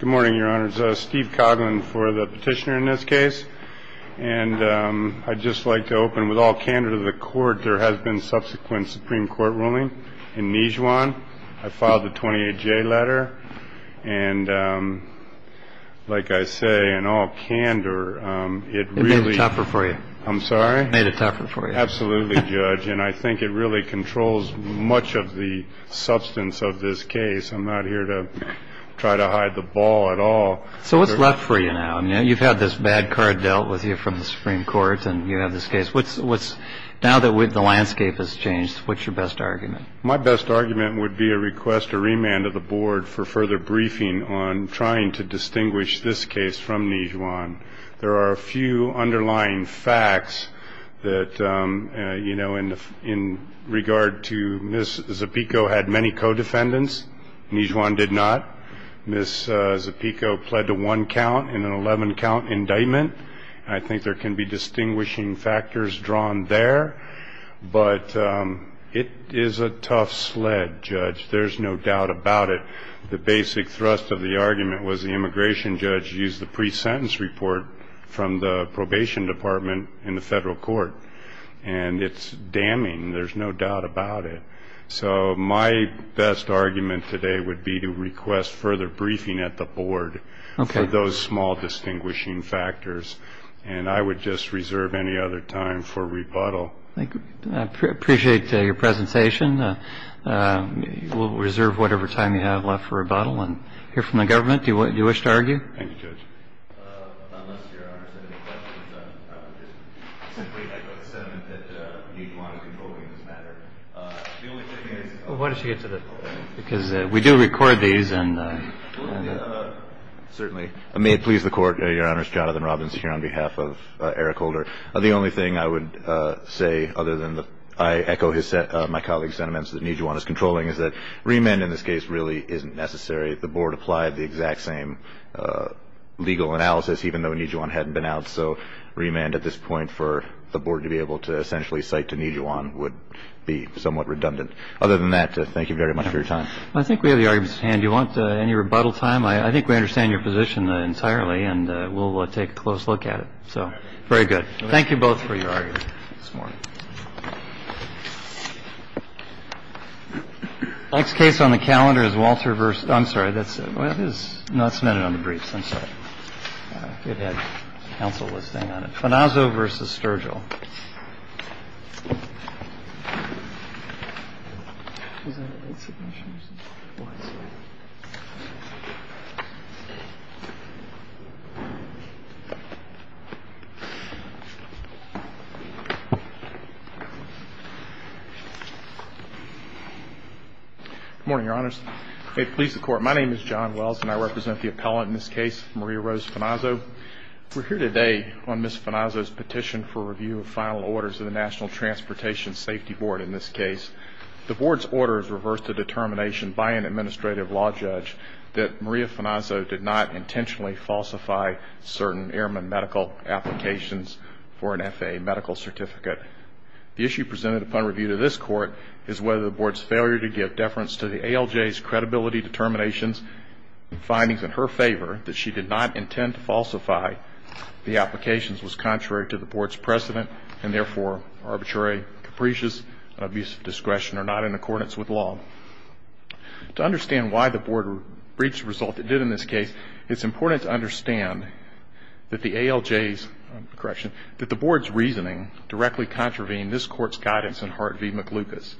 Good morning, Your Honor. It's Steve Coughlin for the petitioner in this case. And I'd just like to open with all candor to the Court. There has been subsequent Supreme Court ruling in Nijuan. I filed the 28-J letter. And like I say, in all candor, it really... It made it tougher for you. I'm sorry? It made it tougher for you. Absolutely, Judge. And I think it really controls much of the substance of this case. I'm not here to try to hide the ball at all. So what's left for you now? You've had this bad card dealt with you from the Supreme Court, and you have this case. Now that the landscape has changed, what's your best argument? My best argument would be a request to remand of the Board for further briefing on trying to distinguish this case from Nijuan. There are a few underlying facts that, you know, in regard to Ms. Zepico had many co-defendants. Nijuan did not. Ms. Zepico pled to one count in an 11-count indictment. I think there can be distinguishing factors drawn there. But it is a tough sled, Judge. There's no doubt about it. The basic thrust of the argument was the immigration judge used the pre-sentence report from the probation department in the federal court. And it's damning. There's no doubt about it. So my best argument today would be to request further briefing at the Board for those small distinguishing factors. And I would just reserve any other time for rebuttal. I appreciate your presentation. We'll reserve whatever time you have left for rebuttal and hear from the government. Do you wish to argue? Thank you, Judge. Unless Your Honor has any questions, I'll just simply echo the sentiment that Nijuan is controlling this matter. The only thing is the only thing I would say other than that I echo my colleague's sentiments that Nijuan is controlling is that remand in this case really isn't necessary. The Board applied the exact same legal analysis, even though Nijuan hadn't been out. So remand at this point for the Board to be able to essentially cite to Nijuan would be somewhat redundant. Other than that, thank you very much for your time. I think we have the arguments at hand. Do you want any rebuttal time? I think we understand your position entirely, and we'll take a close look at it. So very good. Thank you both for your argument this morning. Next case on the calendar is Walter versus. I'm sorry, that's it. It is not submitted on the briefs. I'm sorry. Good morning, Your Honors. May it please the Court, my name is John Wells, and I represent the appellant in this case, Maria Rose Fanazo. We're here today on Ms. Fanazo's petition for review of final orders of the National Transportation Safety Board in this case. The Board's order is reverse the determination by an administrative law judge that Maria Fanazo did not intentionally falsify certain airman medical applications for an FAA medical certificate. The issue presented upon review to this Court is whether the Board's failure to give deference to the ALJ's credibility determinations and findings in her favor that she did not intend to falsify the applications was contrary to the Board's precedent and, therefore, arbitrary capricious abuse of discretion or not in accordance with law. To understand why the Board reached a result it did in this case, it's important to understand that the ALJ's, correction, that the Board's reasoning directly contravened this Court's guidance in Hart v. McLucas.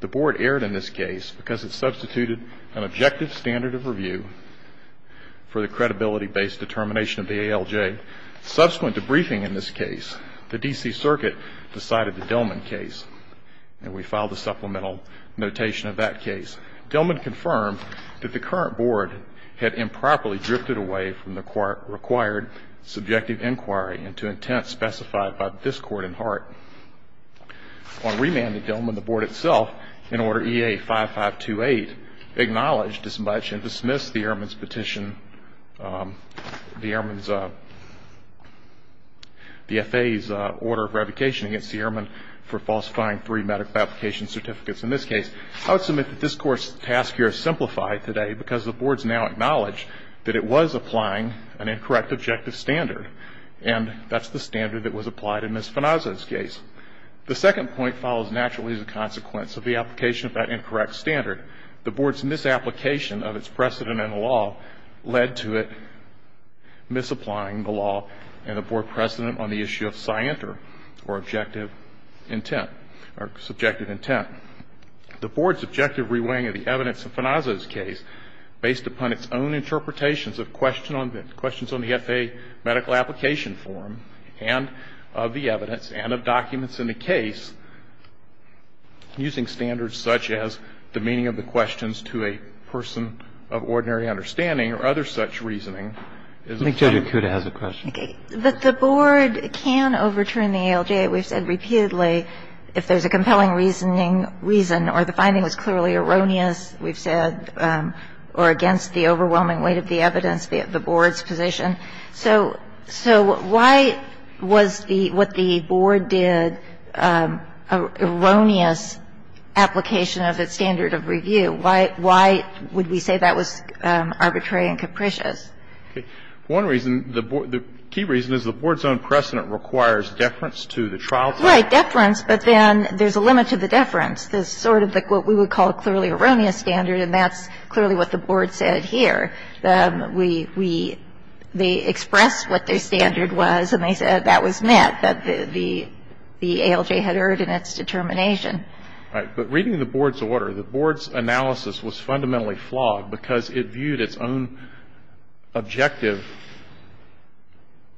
The Board erred in this case because it substituted an objective standard of review for the credibility-based determination of the ALJ. Subsequent to briefing in this case, the D.C. Circuit decided the Dillman case, and we filed a supplemental notation of that case. Dillman confirmed that the current Board had improperly drifted away from the required subjective inquiry into intent specified by this Court in Hart. On remand to Dillman, the Board itself, in Order E.A. 5528, acknowledged as much and dismissed the Airman's petition, the Airman's, the FAA's order of revocation against the Airman for falsifying three medical application certificates in this case. I would submit that this Court's task here is simplified today because the Board's now acknowledged that it was applying an incorrect objective standard, and that's the standard that was applied in Ms. Fenazza's case. The second point follows naturally as a consequence of the application of that incorrect standard. The Board's misapplication of its precedent in the law led to it misapplying the law and the Board precedent on the issue of scienter, or objective intent, or subjective intent. The Board's objective reweighing of the evidence in Fenazza's case, based upon its own interpretations of questions on the FAA medical application form and of the evidence and of documents in the case, using standards such as the meaning of the questions to a person of ordinary understanding or other such reasoning, is a fact. I think Judge Akuta has a question. The Board can overturn the ALJ. We've said repeatedly if there's a compelling reasoning reason or the finding was clearly erroneous, we've said, or against the overwhelming weight of the evidence, the Board's position. So why was the what the Board did an erroneous application of its standard of review? The Board's own precedent requires deference to the trial. Right. Deference. But then there's a limit to the deference. There's sort of what we would call a clearly erroneous standard, and that's clearly what the Board said here. We they expressed what their standard was, and they said that was met, that the ALJ had erred in its determination. All right. But reading the Board's order, the Board's analysis was fundamentally flawed because it viewed its own objective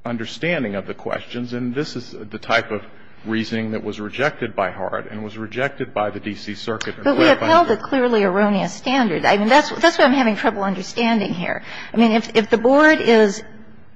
understanding of the questions, and this is the type of reasoning that was rejected by Hart and was rejected by the D.C. Circuit. But we upheld a clearly erroneous standard. I mean, that's why I'm having trouble understanding here. I mean, if the Board is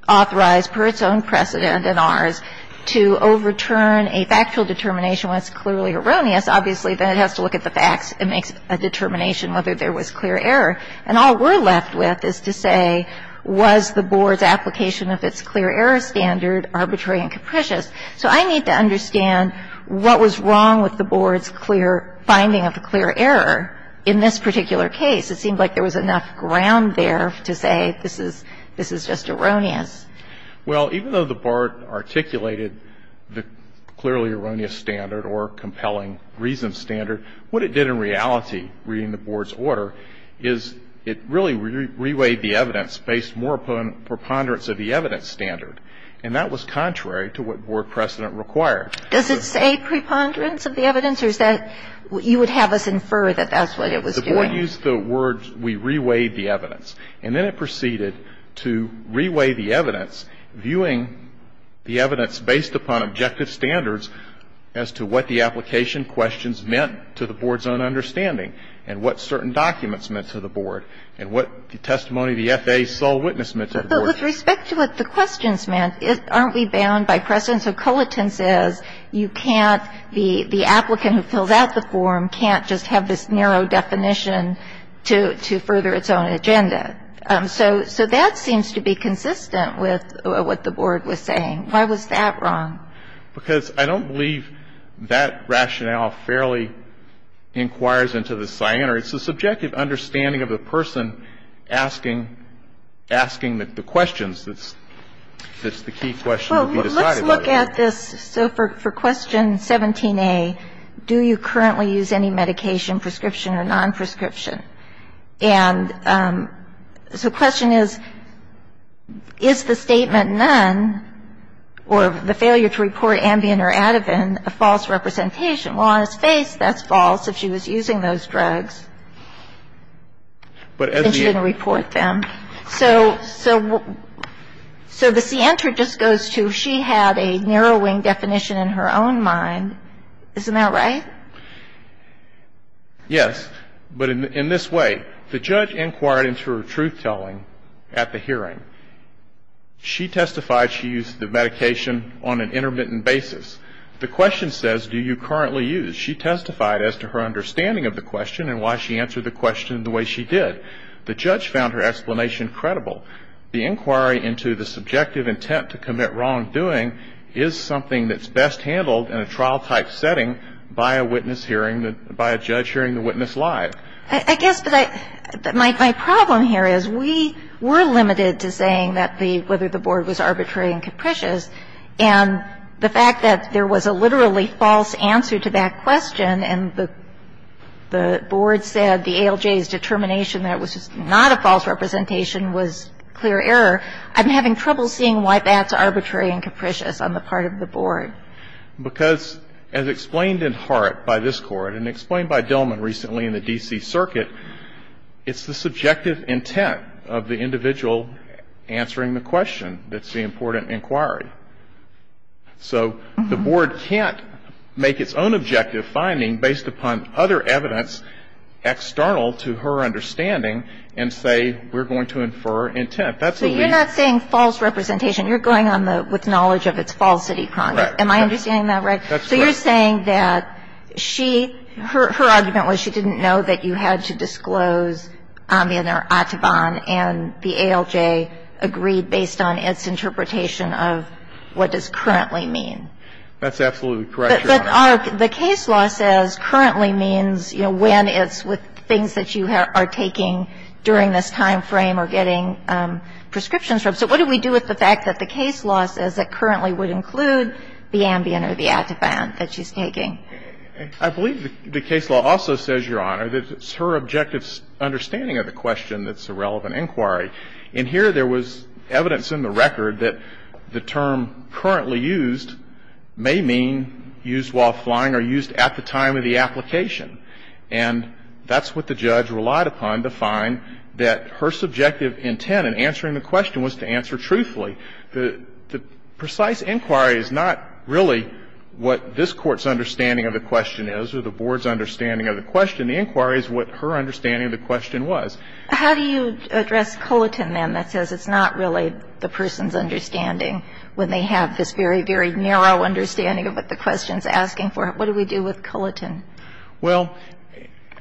authorized per its own precedent and ours to overturn a factual determination when it's clearly erroneous, obviously, then it has to look at the facts. It makes a determination whether there was clear error. And all we're left with is to say, was the Board's application of its clear error standard arbitrary and capricious? So I need to understand what was wrong with the Board's clear finding of the clear error in this particular case. It seemed like there was enough ground there to say this is just erroneous. Well, even though the Board articulated the clearly erroneous standard or compelling reason standard, what it did in reality, reading the Board's order, is it really reweighed the evidence based more upon preponderance of the evidence standard, and that was contrary to what Board precedent required. Does it say preponderance of the evidence, or is that you would have us infer that that's what it was doing? The Board used the words, we reweighed the evidence. And then it proceeded to reweigh the evidence, viewing the evidence based upon objective standards as to what the application questions meant to the Board's own understanding and what certain documents meant to the Board and what the testimony of the F.A. sole witness meant to the Board. But with respect to what the questions meant, aren't we bound by precedent? And so Coliton says you can't be the applicant who fills out the form can't just have this narrow definition to further its own agenda. So that seems to be consistent with what the Board was saying. Why was that wrong? Because I don't believe that rationale fairly inquires into the cyanide. It's the subjective understanding of the person asking the questions that's the key question. The other question that appears is, why was the C.N.T.R. not used against her? Why was the C.N.T.R. not used against her? Well, let's look at this. So for Question 17a, do you currently use any medication, prescription or non-prescription? And so the question is, is the statement none, or the failure to report Ambien or Ativan, a false representation? Well, on his face, that's false, if she was using those drugs, and she didn't report them. So the C.N.T.R. just goes to, she had a narrowing definition in her own mind. Isn't that right? Yes, but in this way. The judge inquired into her truth-telling at the hearing. She testified she used the medication on an intermittent basis. The question says, do you currently use? She testified as to her understanding of the question and why she answered the question the way she did. The judge found her explanation credible. The inquiry into the subjective intent to commit wrongdoing is something that's best handled in a trial-type setting by a witness hearing, by a judge hearing the witness live. I guess my problem here is we were limited to saying whether the board was arbitrary and capricious. And the fact that there was a literally false answer to that question and the board said the ALJ's determination that it was not a false representation was clear error, I'm having trouble seeing why that's arbitrary and capricious on the part of the board. Because as explained in Hart by this Court and explained by Dillman recently in the D.C. Circuit, it's the subjective intent of the individual answering the question that's the important inquiry. So the board can't make its own objective finding based upon other evidence external to her understanding and say we're going to infer intent. That's what we need. So you're not saying false representation. You're going on with knowledge of its falsity. Am I understanding that right? That's correct. So you're saying that she, her argument was she didn't know that you had to disclose that she was taking the Ambien or the Ativan and the ALJ agreed based on its interpretation of what does currently mean. That's absolutely correct, Your Honor. But our the case law says currently means, you know, when it's with things that you are taking during this time frame or getting prescriptions from. So what do we do with the fact that the case law says that currently would include the Ambien or the Ativan that she's taking? I believe the case law also says, Your Honor, that it's her objective understanding of the question that's a relevant inquiry. And here there was evidence in the record that the term currently used may mean used while flying or used at the time of the application. And that's what the judge relied upon to find that her subjective intent in answering the question was to answer truthfully. The precise inquiry is not really what this Court's understanding of the question is or the Board's understanding of the question. The inquiry is what her understanding of the question was. How do you address Culliton, then, that says it's not really the person's understanding when they have this very, very narrow understanding of what the question is asking for? What do we do with Culliton? Well,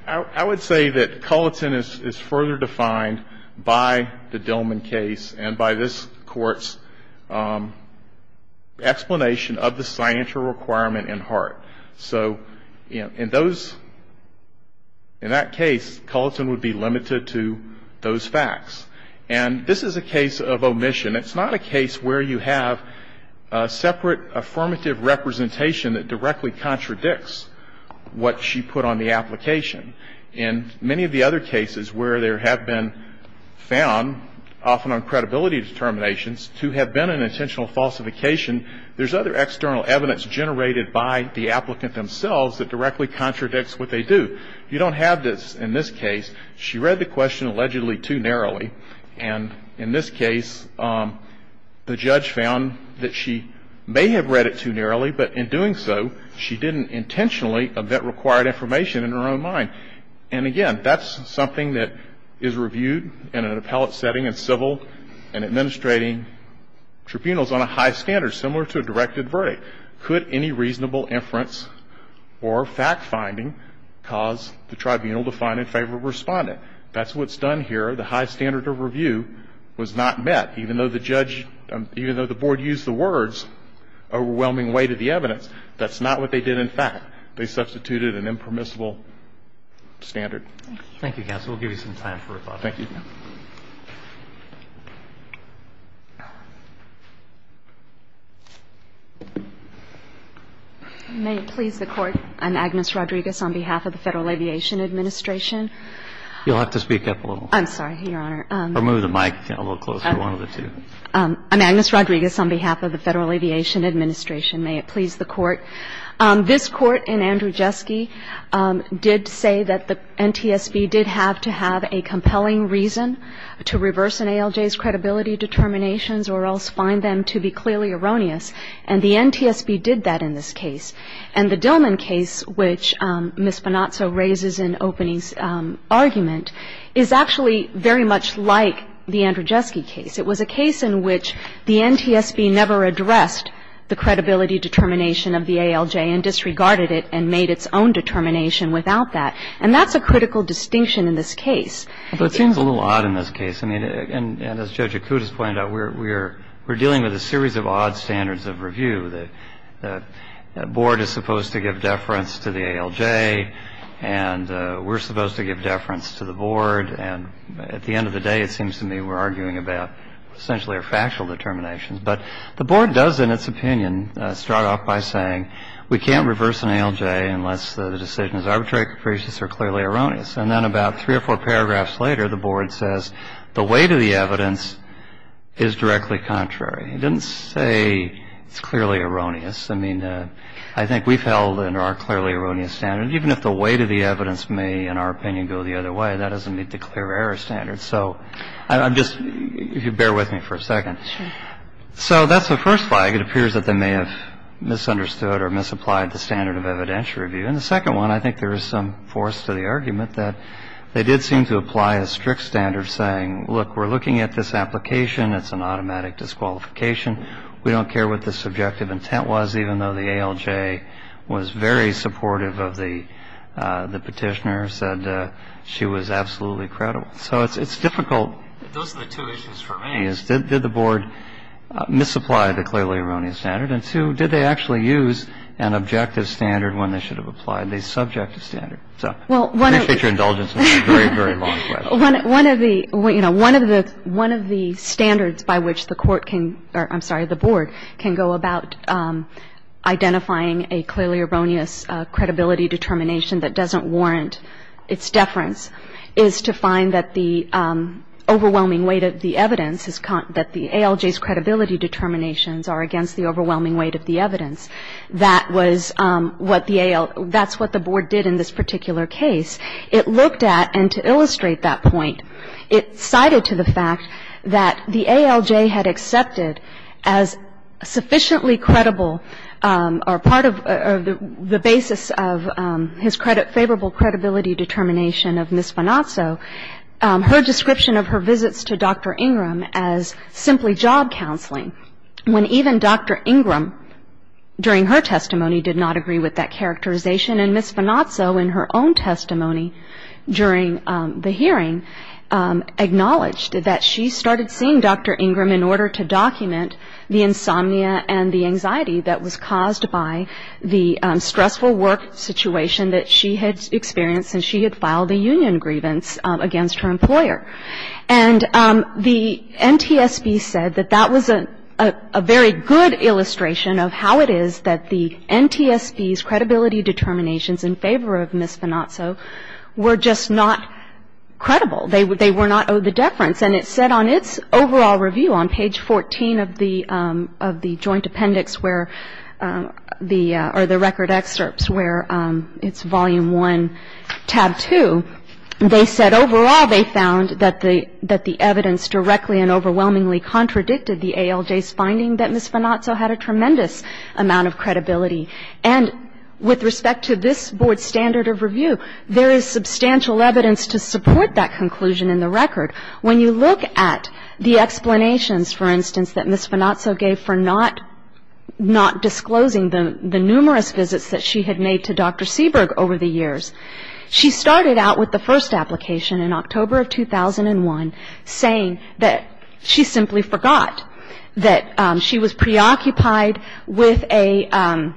I would say that Culliton is further defined by the Dillman case and by this Court's explanation of the signature requirement in Hart. So in those, in that case, Culliton would be limited to those facts. And this is a case of omission. It's not a case where you have a separate affirmative representation that directly contradicts what she put on the application. In many of the other cases where there have been found, often on credibility determinations, to have been an intentional falsification, there's other external evidence generated by the applicant themselves that directly contradicts what they do. You don't have this in this case. She read the question allegedly too narrowly. And in this case, the judge found that she may have read it too narrowly, but in doing so, she didn't intentionally vet required information in her own mind. And again, that's something that is reviewed in an appellate setting and civil and administrating tribunals on a high standard, similar to a directed verdict. Could any reasonable inference or fact-finding cause the tribunal to find in favor of a respondent? That's what's done here. The high standard of review was not met, even though the judge, even though the did, in fact, they substituted an impermissible standard. Thank you. Thank you, counsel. We'll give you some time for rebuttal. Thank you. May it please the Court, I'm Agnes Rodriguez on behalf of the Federal Aviation Administration. You'll have to speak up a little. I'm sorry, Your Honor. Or move the mic a little closer, one of the two. I'm Agnes Rodriguez on behalf of the Federal Aviation Administration. May it please the Court. This Court in Andrzejewski did say that the NTSB did have to have a compelling reason to reverse an ALJ's credibility determinations or else find them to be clearly erroneous. And the NTSB did that in this case. And the Dillman case, which Ms. Bonazzo raises in opening argument, is actually very much like the Andrzejewski case. It was a case in which the NTSB never addressed the credibility determination of the ALJ and disregarded it and made its own determination without that. And that's a critical distinction in this case. Well, it seems a little odd in this case. I mean, and as Judge Acutis pointed out, we're dealing with a series of odd standards of review. The Board is supposed to give deference to the ALJ and we're supposed to give deference to the Board. And at the end of the day, it seems to me we're arguing about essentially a factual determination. But the Board does, in its opinion, start off by saying we can't reverse an ALJ unless the decision is arbitrary, capricious or clearly erroneous. And then about three or four paragraphs later, the Board says the weight of the evidence is directly contrary. It didn't say it's clearly erroneous. I mean, I think we've held in our clearly erroneous standard, even if the weight of the evidence may, in our opinion, go the other way. That doesn't meet the clear error standard. So I'm just ‑‑ if you bear with me for a second. So that's the first flag. It appears that they may have misunderstood or misapplied the standard of evidentiary review. And the second one, I think there is some force to the argument that they did seem to apply a strict standard saying, look, we're looking at this application. It's an automatic disqualification. We don't care what the subjective intent was, even though the ALJ was very supportive of the petitioner, said she was absolutely credible. So it's difficult. Those are the two issues for me, is did the Board misapply the clearly erroneous standard? And two, did they actually use an objective standard when they should have applied a subjective standard? So I appreciate your indulgence on that very, very long question. One of the standards by which the Court can ‑‑ I'm sorry, the Board can go about identifying a clearly erroneous credibility determination that doesn't warrant its deference is to find that the overwhelming weight of the evidence is ‑‑ that the ALJ's credibility determinations are against the overwhelming weight of the evidence. That was what the AL ‑‑ that's what the Board did in this particular case. It looked at, and to illustrate that point, it cited to the fact that the ALJ had accepted as sufficiently credible, or part of ‑‑ or the basis of his credit ‑‑ favorable credibility determination of Ms. Fanatso, her description of her visits to Dr. Ingram as simply job counseling, when even Dr. Ingram, during her testimony, did not agree with that characterization. And Ms. Fanatso, in her own testimony during the hearing, acknowledged that she started seeing Dr. Ingram in order to document the insomnia and the anxiety that was caused by the stressful work situation that she had experienced since she had filed a union grievance against her employer. And the NTSB said that that was a very good illustration of how it is that the NTSB's credibility determinations in favor of Ms. Fanatso were just not credible. They were not owed the deference. And it said on its overall review on page 14 of the joint appendix where the ‑‑ or the record excerpts where it's volume 1, tab 2, they said overall they found that the evidence directly and overwhelmingly contradicted the ALJ's finding that Ms. Fanatso had a tremendous amount of credibility. And with respect to this Board's standard of review, there is substantial evidence to support that conclusion in the record. When you look at the explanations, for instance, that Ms. Fanatso gave for not disclosing the numerous visits that she had made to Dr. Seberg over the years, she started out with the first application in October of 2001 saying that she simply forgot that she was preoccupied with an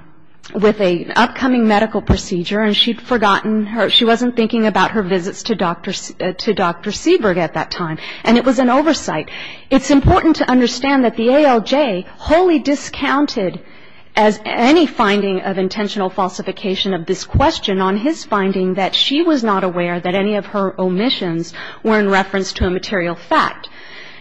upcoming medical procedure and she'd forgotten her ‑‑ her medical experience at that time. And it was an oversight. It's important to understand that the ALJ wholly discounted as any finding of intentional falsification of this question on his finding that she was not aware that any of her omissions were in reference to a material fact.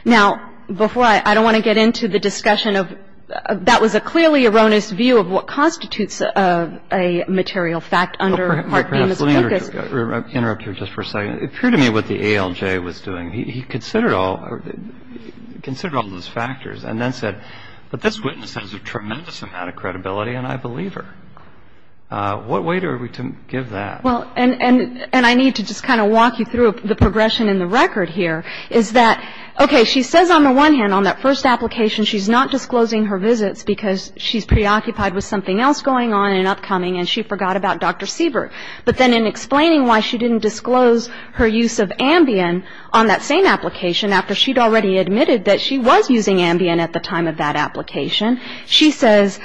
Now, before I ‑‑ I don't want to get into the discussion of ‑‑ that was a clearly erroneous view of what constitutes a material fact under Hart v. Miss Pookus. I'm going to interrupt you just for a second. It occurred to me what the ALJ was doing. He considered all of those factors and then said, but this witness has a tremendous amount of credibility and I believe her. What way are we to give that? Well, and I need to just kind of walk you through the progression in the record here is that, okay, she says on the one hand on that first application she's not disclosing her visits because she's preoccupied with something else going on in an upcoming and she forgot about Dr. Seberg. But then in explaining why she didn't disclose her use of Ambien on that same application after she'd already admitted that she was using Ambien at the time of that application, she says,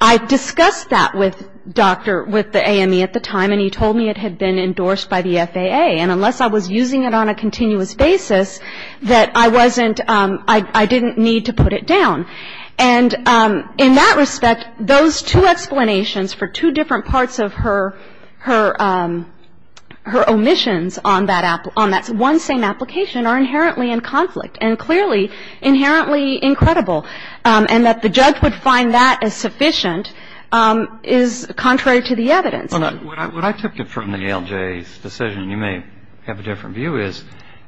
I discussed that with Dr. ‑‑ with the AME at the time and he told me it had been endorsed by the FAA and unless I was using it on a continuous basis that I wasn't ‑‑ I didn't need to put it down. And in that respect, those two explanations for two different parts of her omissions on that one same application are inherently in conflict and clearly inherently incredible and that the judge would find that as sufficient is contrary to the evidence. What I took from the ALJ's decision, you may have a different view, is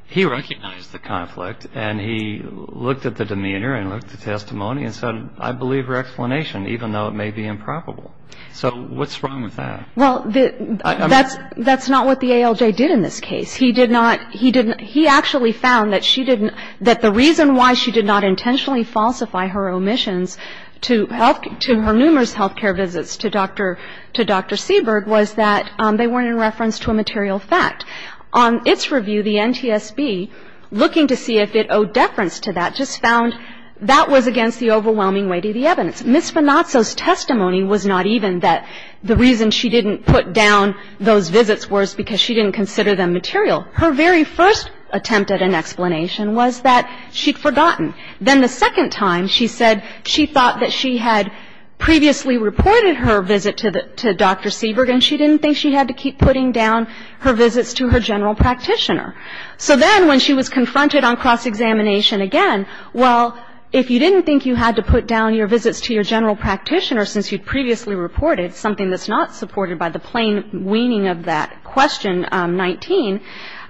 he recognized the conflict and he looked at the demeanor and looked at the testimony and said I believe her explanation even though it may be improbable. So what's wrong with that? Well, that's not what the ALJ did in this case. He did not ‑‑ he actually found that she didn't ‑‑ that the reason why she did not intentionally falsify her omissions to her numerous health care visits to Dr. Seberg was that they weren't in reference to a material fact. On its review, the NTSB, looking to see if it owed deference to that, just found that was against the overwhelming weight of the evidence. Ms. Venazzo's testimony was not even that the reason she didn't put down those visits was because she didn't consider them material. Her very first attempt at an explanation was that she'd forgotten. Then the second time she said she thought that she had previously reported her visit to Dr. Seberg and she didn't think she had to keep putting down her visits to her general practitioner. So then when she was confronted on cross‑examination again, well, if you didn't think you had to put down your visits to your general practitioner since you'd previously reported something that's not supported by the plain weaning of that question 19,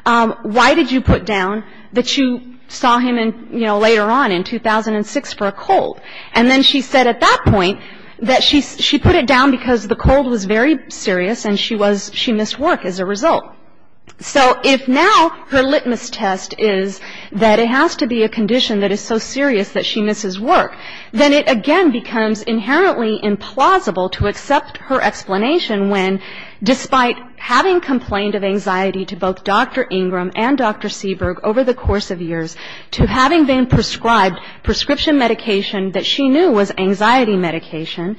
why did you put down that you saw him later on in 2006 for a cold? And then she said at that point that she put it down because the cold was very serious and she missed work as a result. So if now her litmus test is that it has to be a condition that is so serious that she misses work, then it again becomes inherently implausible to accept her explanation when despite having complained of anxiety to both Dr. Ingram and Dr. Seberg over the course of years to having been prescribed prescription medication that she knew was anxiety medication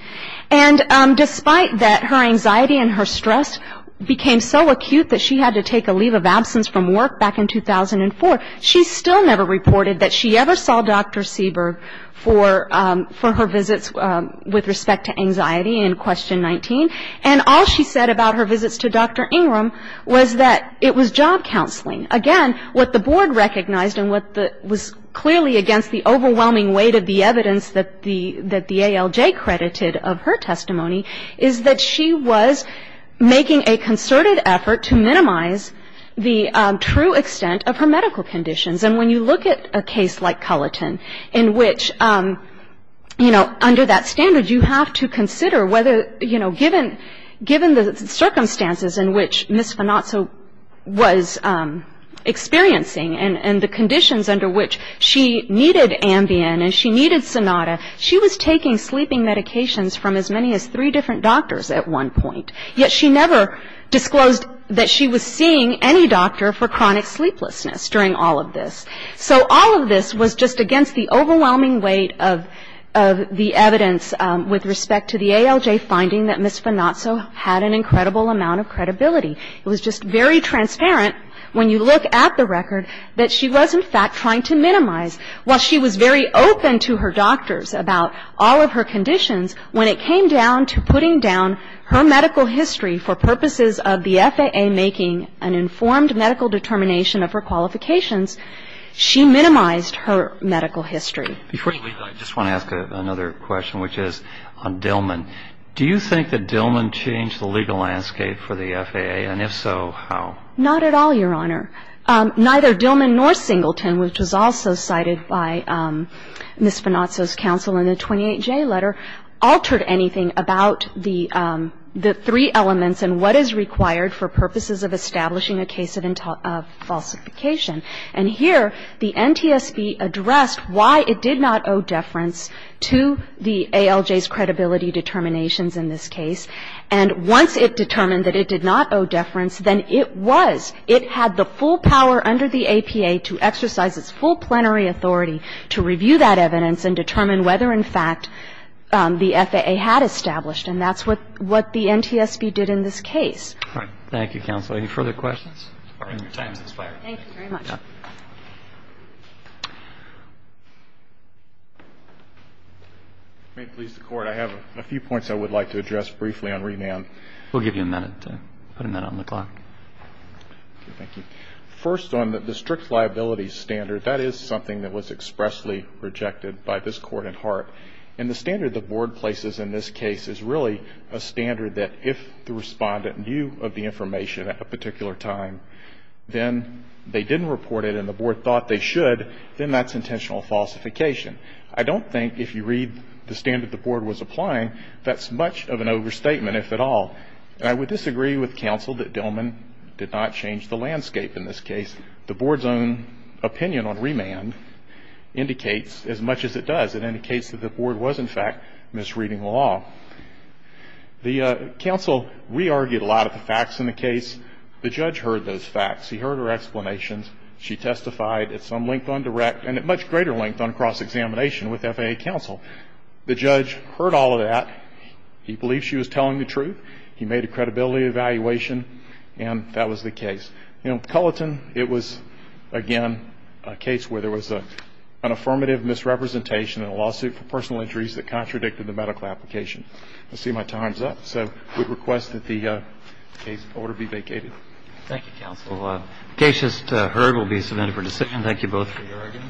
and despite that her anxiety and her stress became so acute that she had to take a leave of absence from work back in 2004, she still never reported that she ever saw Dr. Seberg for her visits with respect to anxiety in question 19. And all she said about her visits to Dr. Ingram was that it was job counseling. Again, what the board recognized and what was clearly against the overwhelming weight of the evidence that the ALJ credited of her testimony is that she was making a concerted effort to minimize the true extent of her medical conditions. And when you look at a case like Culliton in which, you know, under that standard you have to consider whether, you know, given the circumstances in which Ms. Finazzo was experiencing and the conditions under which she needed Ambien and she needed Sonata, she was taking sleeping medications from as many as three different doctors at one point, yet she never disclosed that she was seeing any doctor for chronic sleeplessness during all of this. So all of this was just against the overwhelming weight of the evidence with respect to the ALJ finding that Ms. Finazzo had an incredible amount of credibility. It was just very transparent when you look at the record that she was, in fact, trying to minimize. While she was very open to her doctors about all of her conditions, when it came down to putting down her medical history for purposes of the FAA making an informed medical determination of her qualifications, she minimized her medical history. Before you leave, I just want to ask another question, which is on Dillman. Do you think that Dillman changed the legal landscape for the FAA? And if so, how? Not at all, Your Honor. Neither Dillman nor Singleton, which was also cited by Ms. Finazzo's counsel in the 28J letter, altered anything about the three elements and what is required for purposes of establishing a case of falsification. And here, the NTSB addressed why it did not owe deference to the ALJ's credibility determinations in this case. And once it determined that it did not owe deference, then it was. It had the full power under the APA to exercise its full plenary authority to review that evidence and determine whether, in fact, the FAA had established. And that's what the NTSB did in this case. All right. Thank you, Counsel. Any further questions? All right. Your time has expired. Thank you very much. If it may please the Court, I have a few points I would like to address briefly on remand. We'll give you a minute to put them in on the clock. Thank you. First, on the strict liability standard, that is something that was expressly rejected by this Court at heart. And the standard the Board places in this case is really a standard that if the respondent at a particular time, then they didn't report it and the Board thought they should, then that's intentional falsification. I don't think if you read the standard the Board was applying, that's much of an overstatement, if at all. And I would disagree with Counsel that Dillman did not change the landscape in this case. The Board's own opinion on remand indicates as much as it does. It indicates that the Board was, in fact, misreading the law. The Counsel re-argued a lot of the facts in the case. The Judge heard those facts. He heard her explanations. She testified at some length on direct and at much greater length on cross-examination with FAA Counsel. The Judge heard all of that. He believed she was telling the truth. He made a credibility evaluation, and that was the case. You know, Culleton, it was, again, a case where there was an affirmative misrepresentation and a lawsuit for personal injuries that contradicted the medical application. I see my time's up, so we request that the case order be vacated. Thank you, Counsel. The case just heard will be submitted for decision. Thank you both for your arguments.